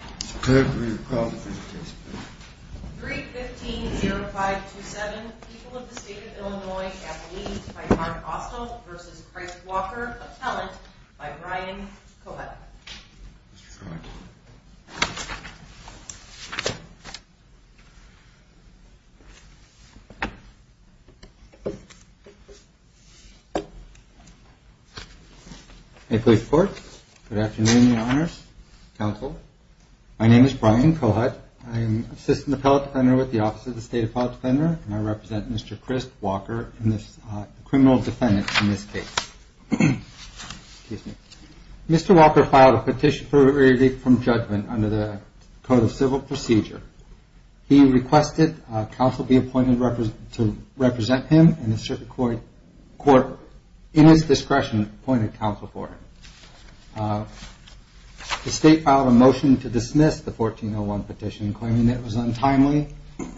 315-0527 People of the State of Illinois at Lied by Mark Austell v. Chris Walker, Appellant by Ryan Kohut. Good afternoon, Your Honors, Counsel. My name is Brian Kohut. I am Assistant Appellant Defender with the Office of the State Appellant Defender, and I represent Mr. Chris Walker, the criminal defendant in this case. Mr. Walker filed a petition for relief from judgment under the Code of Civil Procedure. He requested counsel be appointed to represent him, and the Circuit Court, in its discretion, appointed counsel for him. The State filed a motion to dismiss the 1401 petition, claiming that it was untimely,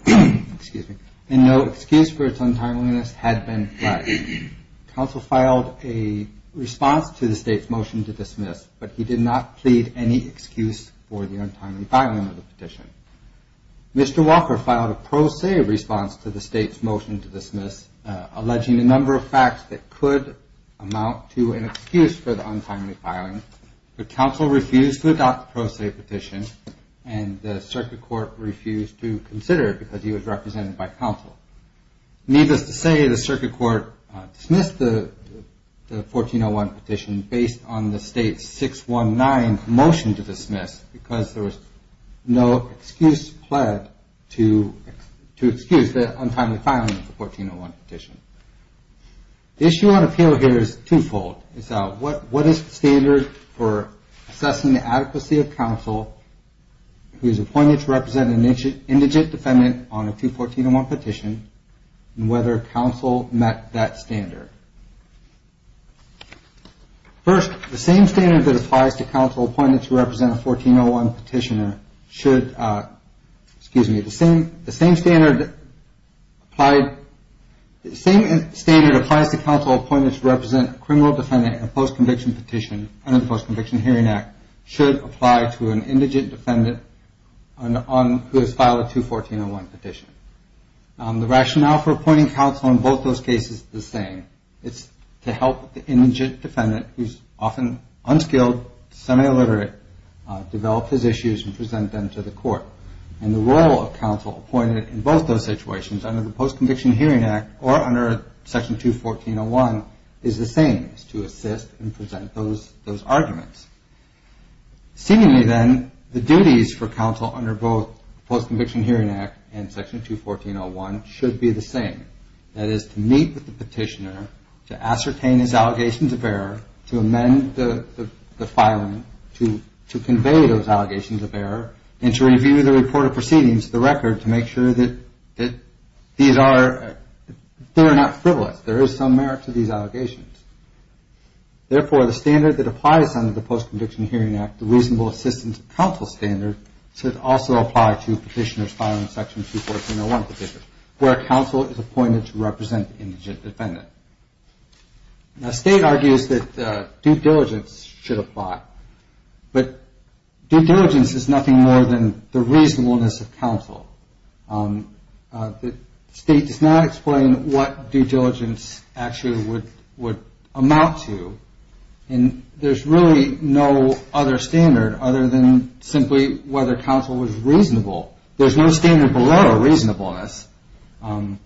and no excuse for its untimeliness had been fled. Counsel filed a response to the State's motion to dismiss, but he did not plead any excuse for the untimely filing of the petition. Mr. Walker filed a pro se response to the State's motion to dismiss, alleging a number of facts that could amount to an excuse for the untimely filing, but counsel refused to adopt the pro se petition, and the Circuit Court refused to consider it because he was represented by counsel. Needless to say, the Circuit Court dismissed the 1401 petition based on the State's 619 motion to dismiss, because there was no excuse fled to excuse the untimely filing of the 1401 petition. The issue on appeal here is twofold. It's what is the standard for assessing the adequacy of counsel who is appointed to represent an indigent defendant on a 1401 petition, and whether counsel met that standard. First, the same standard that applies to counsel appointed to represent a 1401 petitioner should, excuse me, the same standard applies to counsel appointed to represent a criminal defendant in a post-conviction petition under the Post-Conviction Hearing Act should apply to an indigent defendant who has filed a 21401 petition. The rationale for appointing counsel in both those cases is the same. It's to help the indigent defendant, who's often unskilled, semi-illiterate, develop his issues and present them to the court. And the role of counsel appointed in both those situations under the Post-Conviction Hearing Act or under Section 21401 is the same, is to assist and present those arguments. Seemingly, then, the duties for counsel under both the Post-Conviction Hearing Act and Section 21401 should be the same. That is, to meet with the petitioner, to ascertain his allegations of error, to amend the filing, to convey those allegations of error, and to review the reported proceedings of the record to make sure that these are not frivolous. There is some merit to these allegations. Therefore, the standard that applies under the Post-Conviction Hearing Act, the reasonable assistance of counsel standard, should also apply to petitioners filing Section 21401 petitions, where counsel is appointed to represent the indigent defendant. Now, State argues that due diligence should apply, but due diligence is nothing more than the reasonableness of counsel. The State does not explain what due diligence actually would amount to, and there's really no other standard other than simply whether counsel was reasonable. There's no standard below reasonableness. And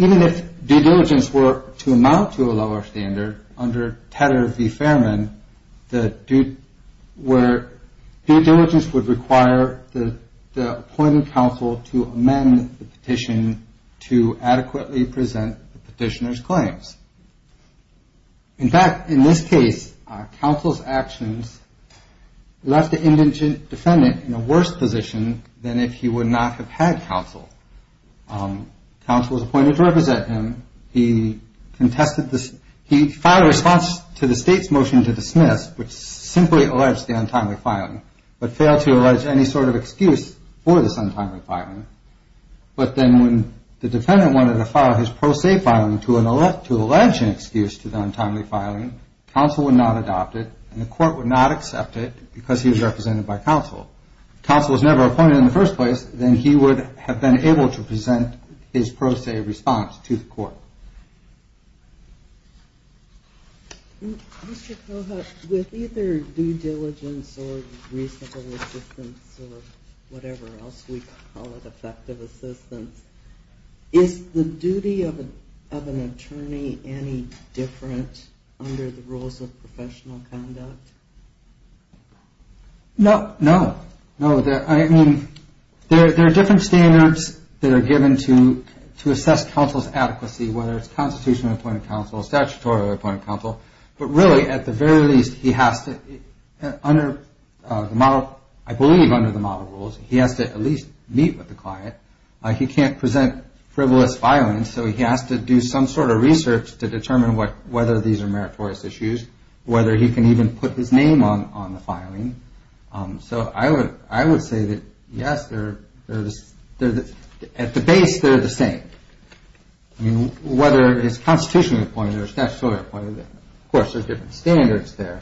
even if due diligence were to amount to a lower standard, under Tedder v. Fairman, where due diligence would require the appointed counsel to amend the petition to adequately present the petitioner's claims. In fact, in this case, counsel's actions left the indigent defendant in a worse position than if he would not have had counsel. Counsel was appointed to represent him. He filed a response to the State's motion to dismiss, which simply alleged the untimely filing, but failed to allege any sort of excuse for this untimely filing. But then when the defendant wanted to file his pro se filing to allege an excuse to the untimely filing, counsel would not adopt it, and the court would not accept it because he was represented by counsel. If counsel was never appointed in the first place, then he would have been able to present his pro se response to the court. Mr. Kohut, with either due diligence or reasonable assistance or whatever else we call it, effective assistance, is the duty of an attorney any different under the rules of professional conduct? No, no, no. I mean, there are different standards that are given to assess counsel's adequacy, whether it's constitutionally appointed counsel or statutorily appointed counsel. But really, at the very least, he has to, under the model, I believe under the model rules, he has to at least meet with the client. He can't present frivolous filings, so he has to do some sort of research to determine whether these are meritorious issues, whether he can even put his name on the filing. So I would say that, yes, at the base, they're the same. I mean, whether it's constitutionally appointed or statutorily appointed, of course, there's different standards there.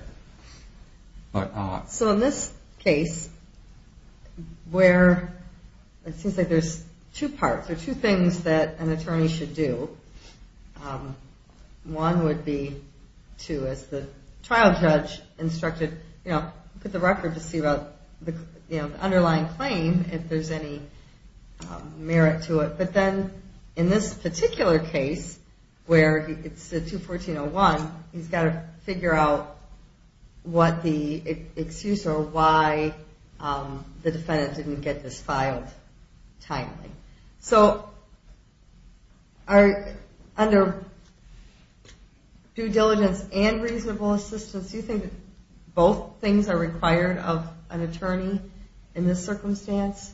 So in this case, where it seems like there's two parts or two things that an attorney should do, one would be to, as the trial judge instructed, you know, put the record to see the underlying claim, if there's any merit to it. But then in this particular case, where it's the 214-01, he's got to figure out what the excuse or why the defendant didn't get this filed timely. So under due diligence and reasonable assistance, do you think both things are required of an attorney in this circumstance?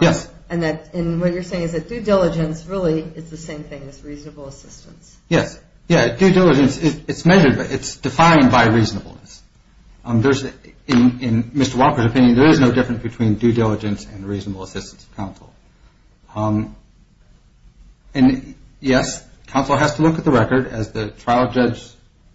Yes. And what you're saying is that due diligence really is the same thing as reasonable assistance. Yes. Yeah, due diligence, it's defined by reasonableness. In Mr. Walker's opinion, there is no difference between due diligence and reasonable assistance of counsel. And, yes, counsel has to look at the record. As the trial judge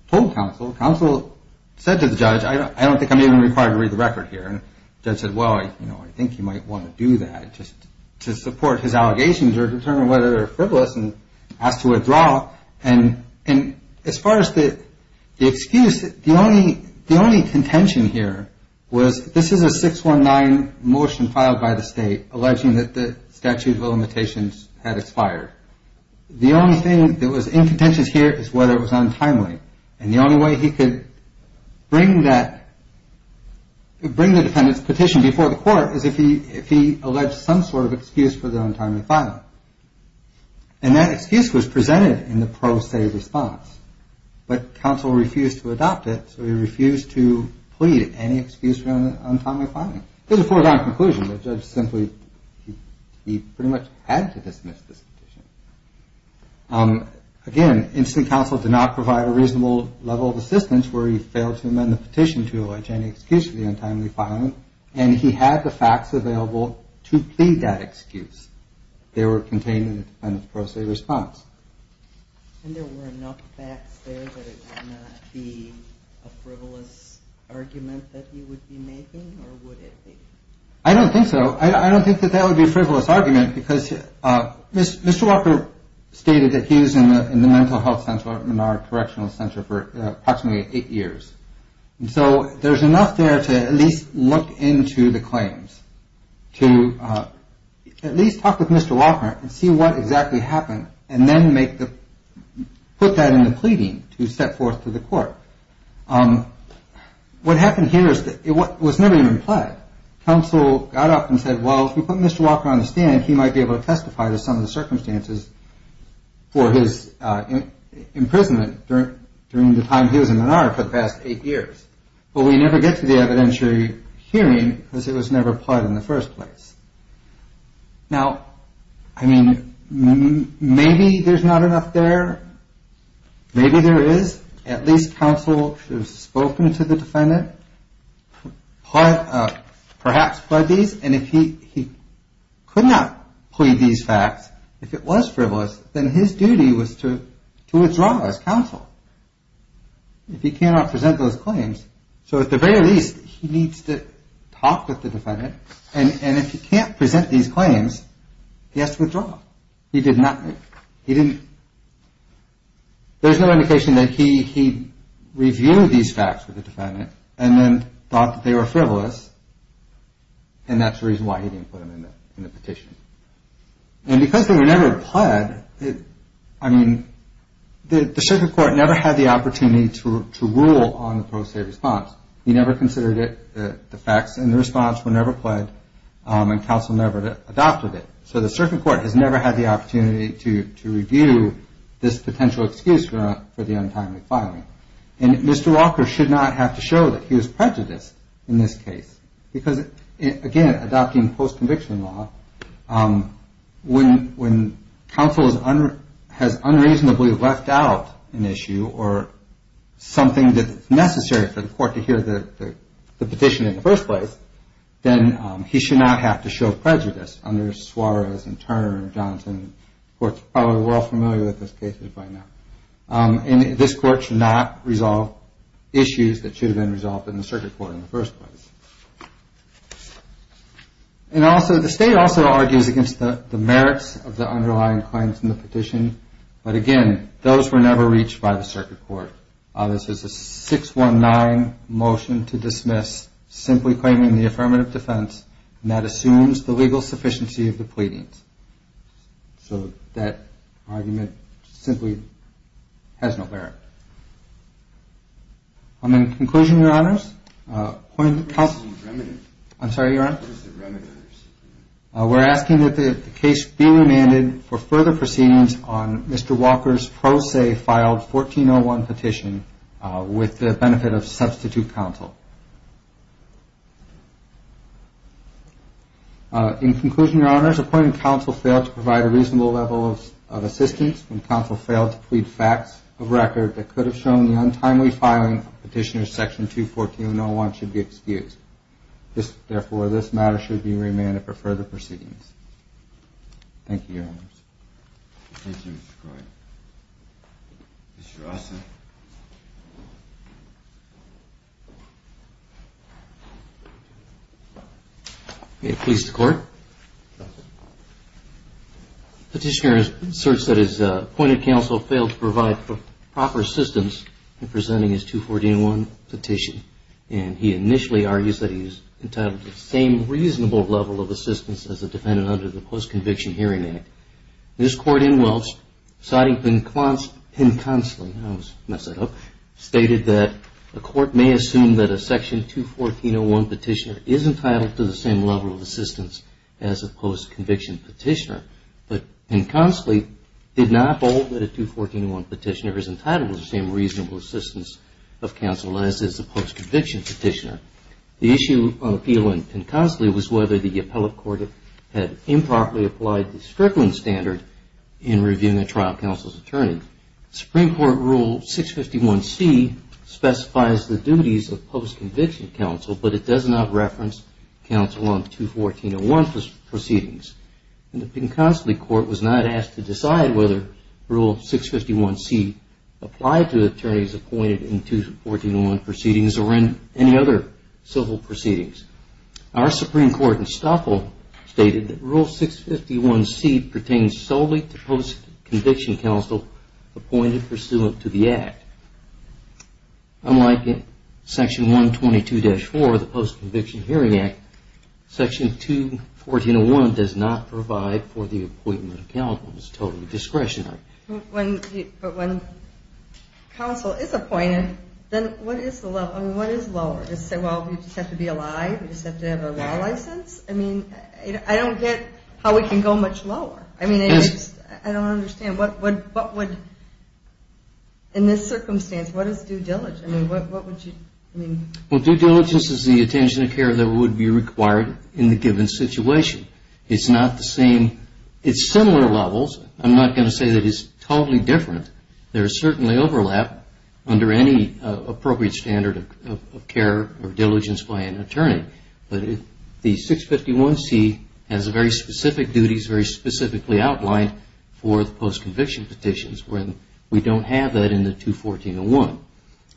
told counsel, counsel said to the judge, I don't think I'm even required to read the record here. And the judge said, well, you know, I think you might want to do that just to support his allegations or determine whether they're frivolous and ask to withdraw. And as far as the excuse, the only contention here was this is a 619 motion filed by the state alleging that the statute of limitations had expired. The only thing that was in contention here is whether it was untimely. And the only way he could bring the defendant's petition before the court is if he alleged some sort of excuse for the untimely filing. And that excuse was presented in the pro se response. But counsel refused to adopt it, so he refused to plead any excuse for untimely filing. This is a foregone conclusion. The judge simply, he pretty much had to dismiss this petition. Again, instant counsel did not provide a reasonable level of assistance where he failed to amend the petition to allege any excuse for the untimely filing. And he had the facts available to plead that excuse. They were contained in the pro se response. And there were enough facts there that it would not be a frivolous argument that he would be making or would it be? I don't think so. I don't think that that would be a frivolous argument because Mr. Walker stated that he was in the mental health center in our correctional center for approximately eight years. And so there's enough there to at least look into the claims to at least talk with Mr. Walker and see what exactly happened. And then make the put that in the pleading to set forth to the court. What happened here is that it was never even implied. Counsel got up and said, well, if we put Mr. Walker on the stand, he might be able to testify to some of the circumstances for his imprisonment during the time he was in Menard for the past eight years. But we never get to the evidentiary hearing because it was never applied in the first place. Now, I mean, maybe there's not enough there. Maybe there is. At least counsel has spoken to the defendant, perhaps pled these. And if he could not plead these facts, if it was frivolous, then his duty was to withdraw as counsel. If he cannot present those claims. So at the very least, he needs to talk with the defendant. And if he can't present these claims, he has to withdraw. He did not. He didn't. There's no indication that he reviewed these facts with the defendant and then thought that they were frivolous. And that's the reason why he didn't put them in the petition. And because they were never pled, I mean, the circuit court never had the opportunity to rule on the pro se response. He never considered it the facts and the response were never pled and counsel never adopted it. So the circuit court has never had the opportunity to review this potential excuse for the untimely filing. And Mr. Walker should not have to show that he was prejudiced in this case because, again, adopting post-conviction law, when counsel has unreasonably left out an issue or something that's necessary for the court to hear the petition in the first place, then he should not have to show prejudice under Suarez and Turner and Johnson, courts probably well familiar with those cases by now. And this court should not resolve issues that should have been resolved in the circuit court in the first place. And also the state also argues against the merits of the underlying claims in the petition. But, again, those were never reached by the circuit court. This is a 619 motion to dismiss simply claiming the affirmative defense. And that assumes the legal sufficiency of the pleadings. So that argument simply has no merit. In conclusion, Your Honors, we're asking that the case be remanded for further proceedings on Mr. Walker's pro se filed 1401 petition with the benefit of substitute counsel. In conclusion, Your Honors, appointed counsel failed to provide a reasonable level of assistance and counsel failed to plead facts of record that could have shown the untimely filing of Petitioner's Section 214-01 should be excused. Therefore, this matter should be remanded for further proceedings. Thank you, Your Honors. Thank you, Mr. Coyne. Mr. Rossin. May it please the Court. Petitioner asserts that his appointed counsel failed to provide proper assistance in presenting his 214-01 petition. And he initially argues that he is entitled to the same reasonable level of assistance as a defendant under the Post-Conviction Hearing Act. This Court in Welch, citing Pen-Consley, stated that the Court may assume that a Section 214-01 petitioner is entitled to the same level of assistance as a post-conviction petitioner. But Pen-Consley did not hold that a 214-01 petitioner is entitled to the same reasonable assistance of counsel as is a post-conviction petitioner. The issue of appeal in Pen-Consley was whether the appellate court had improperly applied the Strickland Standard in reviewing a trial counsel's attorney. Supreme Court Rule 651C specifies the duties of post-conviction counsel, but it does not reference counsel on 214-01 proceedings. And the Pen-Consley Court was not asked to decide whether Rule 651C applied to attorneys appointed in 214-01 proceedings or in any other civil proceedings. Our Supreme Court in Stoffel stated that Rule 651C pertains solely to post-conviction counsel appointed pursuant to the Act. Unlike Section 122-4 of the Post-Conviction Hearing Act, Section 214-01 does not provide for the appointment of counsel. It is totally discretionary. But when counsel is appointed, then what is lower? Do we just have to be alive? Do we just have to have a law license? I don't get how we can go much lower. I don't understand. In this circumstance, what is due diligence? Well, due diligence is the attention to care that would be required in the given situation. It's not the same. It's similar levels. I'm not going to say that it's totally different. There is certainly overlap under any appropriate standard of care or diligence by an attorney. But the 651C has very specific duties, very specifically outlined for the post-conviction petitions when we don't have that in the 214-01.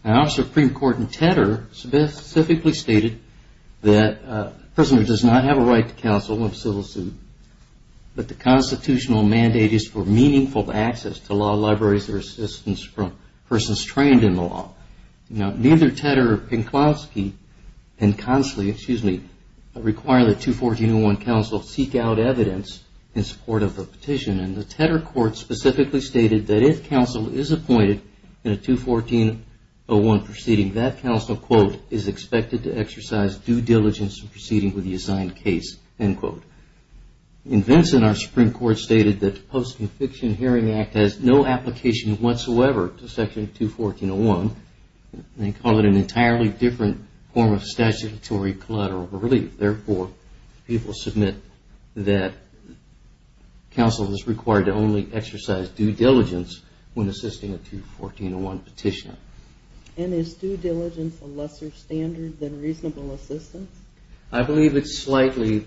Our Supreme Court in Tedder specifically stated that a prisoner does not have a right to counsel in a civil suit, but the constitutional mandate is for meaningful access to law libraries or assistance from persons trained in the law. Neither Tedder nor Pankowski require that 214-01 counsel seek out evidence in support of the petition. And the Tedder court specifically stated that if counsel is appointed in a 214-01 proceeding, that counsel, quote, is expected to exercise due diligence in proceeding with the assigned case, end quote. In Vinson, our Supreme Court stated that the Post-Conviction Hearing Act has no application whatsoever to section 214-01. They call it an entirely different form of statutory collateral relief. Therefore, people submit that counsel is required to only exercise due diligence when assisting a 214-01 petitioner. And is due diligence a lesser standard than reasonable assistance? I believe it's slightly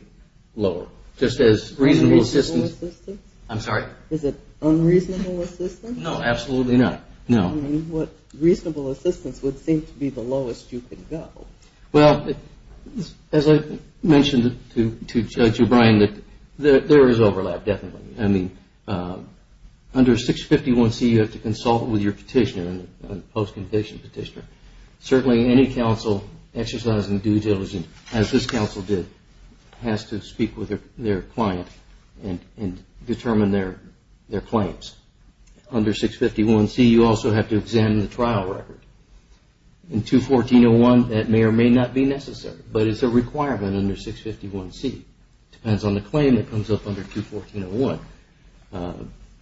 lower, just as reasonable assistance. Reasonable assistance? I'm sorry? Is it unreasonable assistance? No, absolutely not. No. I mean, what reasonable assistance would seem to be the lowest you could go? Well, as I mentioned to Judge O'Brien, that there is overlap, definitely. I mean, under 651C, you have to consult with your petitioner, post-conviction petitioner. Certainly, any counsel exercising due diligence, as this counsel did, has to speak with their client and determine their claims. Under 651C, you also have to examine the trial record. In 214-01, that may or may not be necessary, but it's a requirement under 651C. It depends on the claim that comes up under 214-01.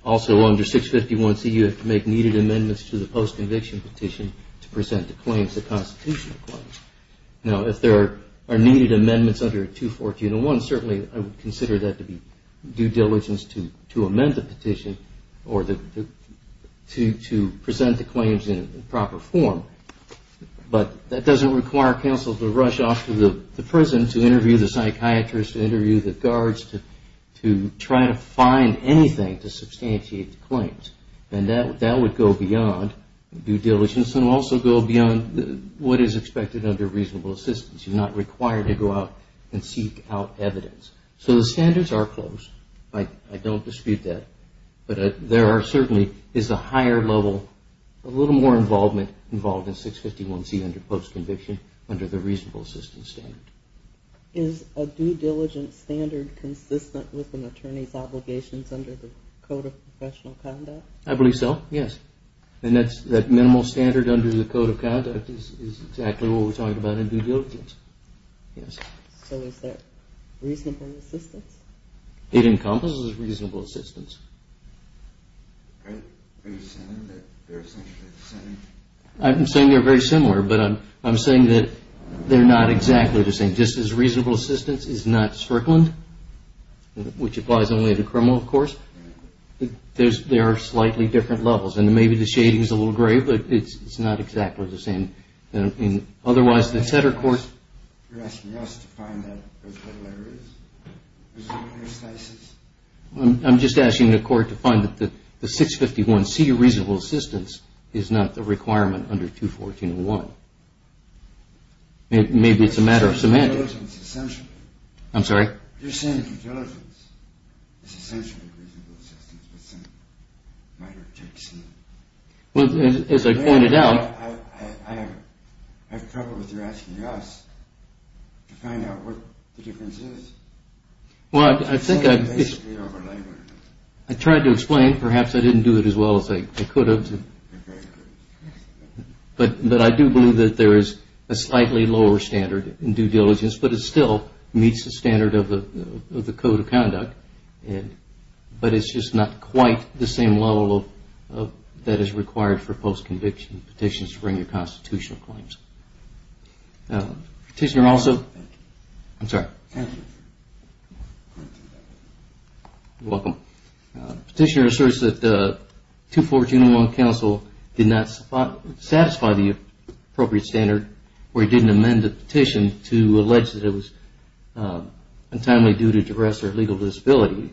Also, under 651C, you have to make needed amendments to the post-conviction petition to present the claims, the constitutional claims. Now, if there are needed amendments under 214-01, certainly, I would consider that to be due diligence to amend the petition or to present the claims in proper form. But that doesn't require counsel to rush off to the prison to interview the psychiatrist, to interview the guards, to try to find anything to substantiate the claims. And that would go beyond due diligence and also go beyond what is expected under reasonable assistance. You're not required to go out and seek out evidence. So the standards are close. I don't dispute that. But there are certainly a higher level, a little more involvement involved in 651C under post-conviction under the reasonable assistance standard. Is a due diligence standard consistent with an attorney's obligations under the Code of Professional Conduct? I believe so, yes. And that minimal standard under the Code of Conduct is exactly what we're talking about in due diligence. So is that reasonable assistance? It encompasses reasonable assistance. Are you saying that they're essentially the same? I'm saying they're very similar, but I'm saying that they're not exactly the same. Just as reasonable assistance is not Sferklund, which applies only to criminal courts, there are slightly different levels. And maybe the shading is a little gray, but it's not exactly the same. You're asking us to find out what level there is? I'm just asking the court to find that the 651C reasonable assistance is not the requirement under 214.1. Maybe it's a matter of semantics. Due diligence is essentially reasonable assistance, but some minor tricks in it. I have trouble with your asking us to find out what the difference is. I tried to explain. Perhaps I didn't do it as well as I could have. But I do believe that there is a slightly lower standard in due diligence, but it still meets the standard of the Code of Conduct. But it's just not quite the same level that is required for post-conviction petitions to bring your constitutional claims. Petitioner asserts that 242.1 counsel did not satisfy the appropriate standard where he didn't amend the petition to allege that it was untimely due to duress or legal disability.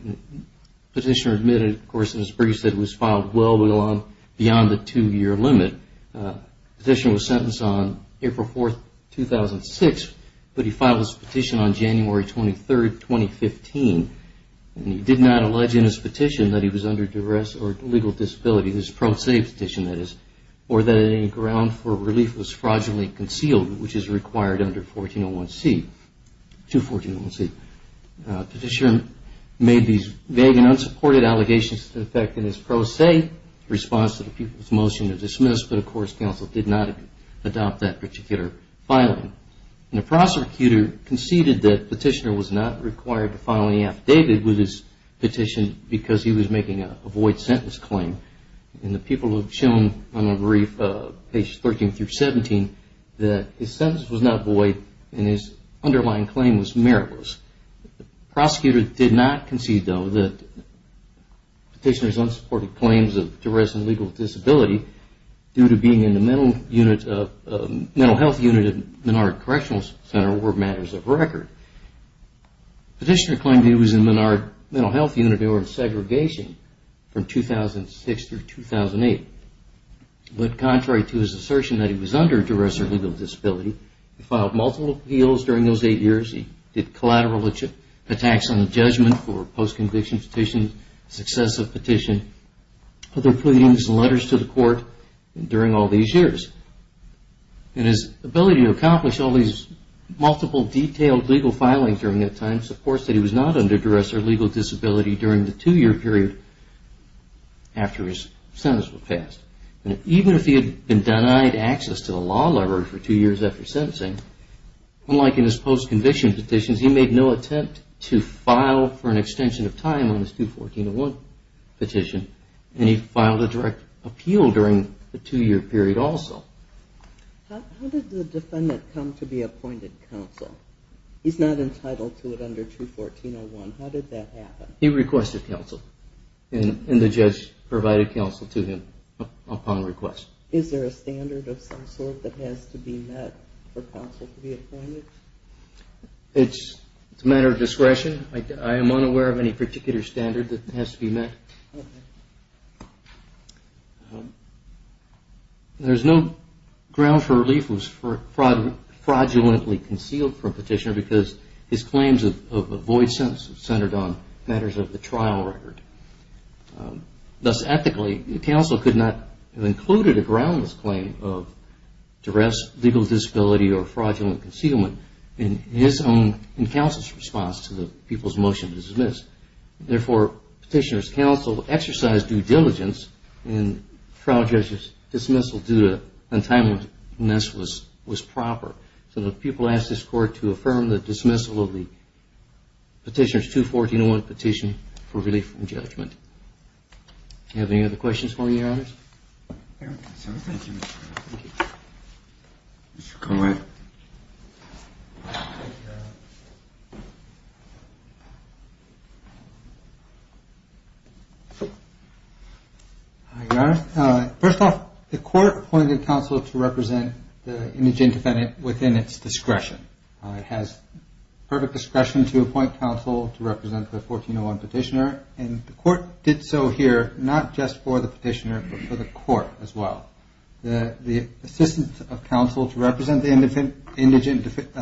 Petitioner admitted, of course, in his brief, that it was filed well beyond the two-year limit. Petitioner was sentenced on April 4, 2006, but he filed his petition on January 23, 2015. And he did not allege in his petition that he was under duress or legal disability, his pro se petition, that is, or that any ground for relief was fraudulently concealed, which is required under 214.1c. Petitioner made these vague and unsupported allegations to the effect in his pro se response to the people's motion to dismiss, but, of course, counsel did not adopt that particular filing. And the prosecutor conceded that petitioner was not required to file any affidavit with his petition because he was making a void sentence claim. And the people have shown on the brief, pages 13 through 17, that his sentence was not void and his underlying claim was meritless. The prosecutor did not concede, though, that petitioner's unsupported claims of duress and legal disability, due to being in the mental health unit at Menard Correctional Center, were matters of record. Petitioner claimed he was in Menard Mental Health Unit or in segregation from 2006 through 2008. But contrary to his assertion that he was under duress or legal disability, he filed multiple appeals during those eight years. He did collateral attacks on the judgment for post-conviction petitions, successive petitions, other pleadings and letters to the court during all these years. And his ability to accomplish all these multiple detailed legal filings during that time, supports that he was not under duress or legal disability during the two-year period after his sentence was passed. And even if he had been denied access to the law library for two years after sentencing, unlike in his post-conviction petitions, he made no attempt to file for an extension of time on his 214-01 petition, and he filed a direct appeal during the two-year period also. How did the defendant come to be appointed counsel? He's not entitled to it under 214-01. How did that happen? He requested counsel, and the judge provided counsel to him upon request. Is there a standard of some sort that has to be met for counsel to be appointed? It's a matter of discretion. I am unaware of any particular standard that has to be met. There's no ground for relief for fraudulently concealed from petitioner, because his claims of a void sentence are centered on matters of the trial record. Thus, ethically, counsel could not have included a groundless claim of duress, legal disability, or fraudulent concealment in counsel's response to the people's motion to dismiss. Therefore, petitioner's counsel exercised due diligence, and trial judge's dismissal due to untimeliness was proper. So the people asked this Court to affirm the dismissal of the petitioner's 214-01 petition for relief from judgment. Do you have any other questions for me, Your Honor? Thank you. Your Honor, first off, the Court appointed counsel to represent the indigent defendant within its discretion. It has perfect discretion to appoint counsel to represent the 14-01 petitioner, and the Court did so here not just for the petitioner, but for the Court as well. The assistance of counsel to represent the indigent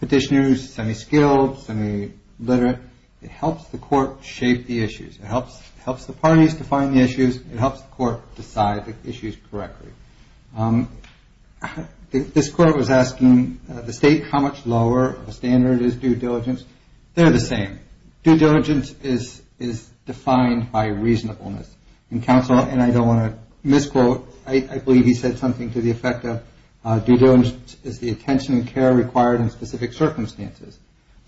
petitioner is semi-skilled, semi-literate. It helps the Court shape the issues. It helps the parties define the issues. It helps the Court decide the issues correctly. This Court was asking the State how much lower a standard is due diligence. They're the same. Due diligence is defined by reasonableness, and counsel, and I don't want to misquote, I believe he said something to the effect of due diligence is the attention and care required in specific circumstances.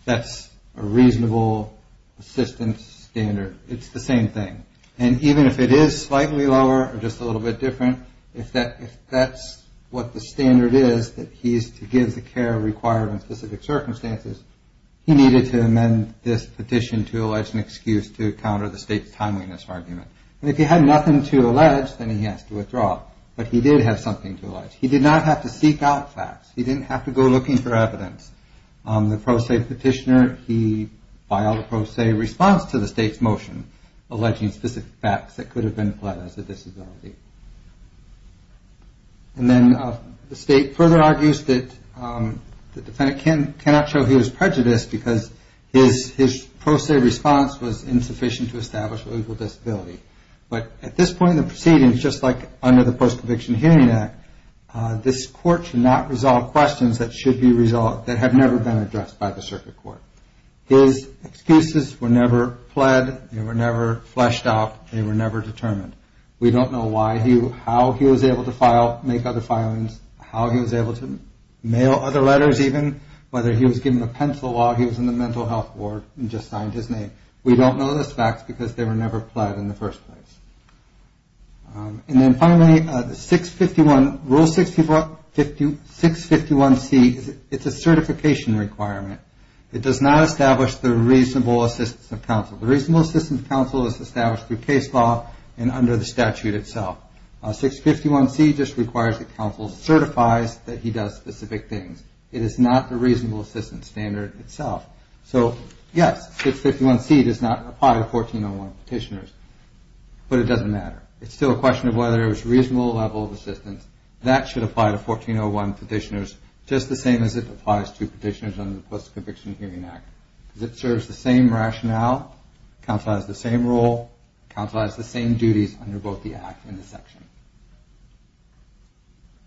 That's a reasonable assistance standard. It's the same thing. And even if it is slightly lower or just a little bit different, if that's what the standard is that he's to give the care required in specific circumstances, he needed to amend this petition to allege an excuse to counter the State's timeliness argument. And if he had nothing to allege, then he has to withdraw. But he did have something to allege. He did not have to seek out facts. He didn't have to go looking for evidence. The pro se petitioner, he filed a pro se response to the State's motion, alleging specific facts that could have been applied as a disability. And then the State further argues that the defendant cannot show he was prejudiced because his pro se response was insufficient to establish a legal disability. But at this point in the proceedings, just like under the Post-Conviction Hearing Act, this court should not resolve questions that have never been addressed by the circuit court. His excuses were never pled, they were never fleshed out, they were never determined. We don't know how he was able to file, make other filings, how he was able to mail other letters, even whether he was given a pencil while he was in the mental health ward and just signed his name. We don't know this fact because they were never pled in the first place. And then finally, Rule 651C, it's a certification requirement. The counsel is established through case law and under the statute itself. 651C just requires that counsel certifies that he does specific things. It is not the reasonable assistance standard itself. So yes, 651C does not apply to 1401 petitioners, but it doesn't matter. It's still a question of whether it was a reasonable level of assistance. That should apply to 1401 petitioners just the same as it applies to petitioners under the Post-Conviction Hearing Act. It serves the same rationale, counsel has the same role, counsel has the same duties under both the Act and the section.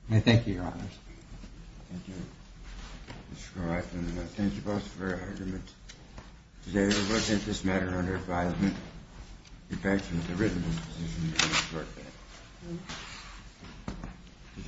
I thank you, Your Honors. Thank you, Mr. Koroff, and thank you both for your arguments. Today we will take this matter under advisement. We thank you for the reasonable decision to report that.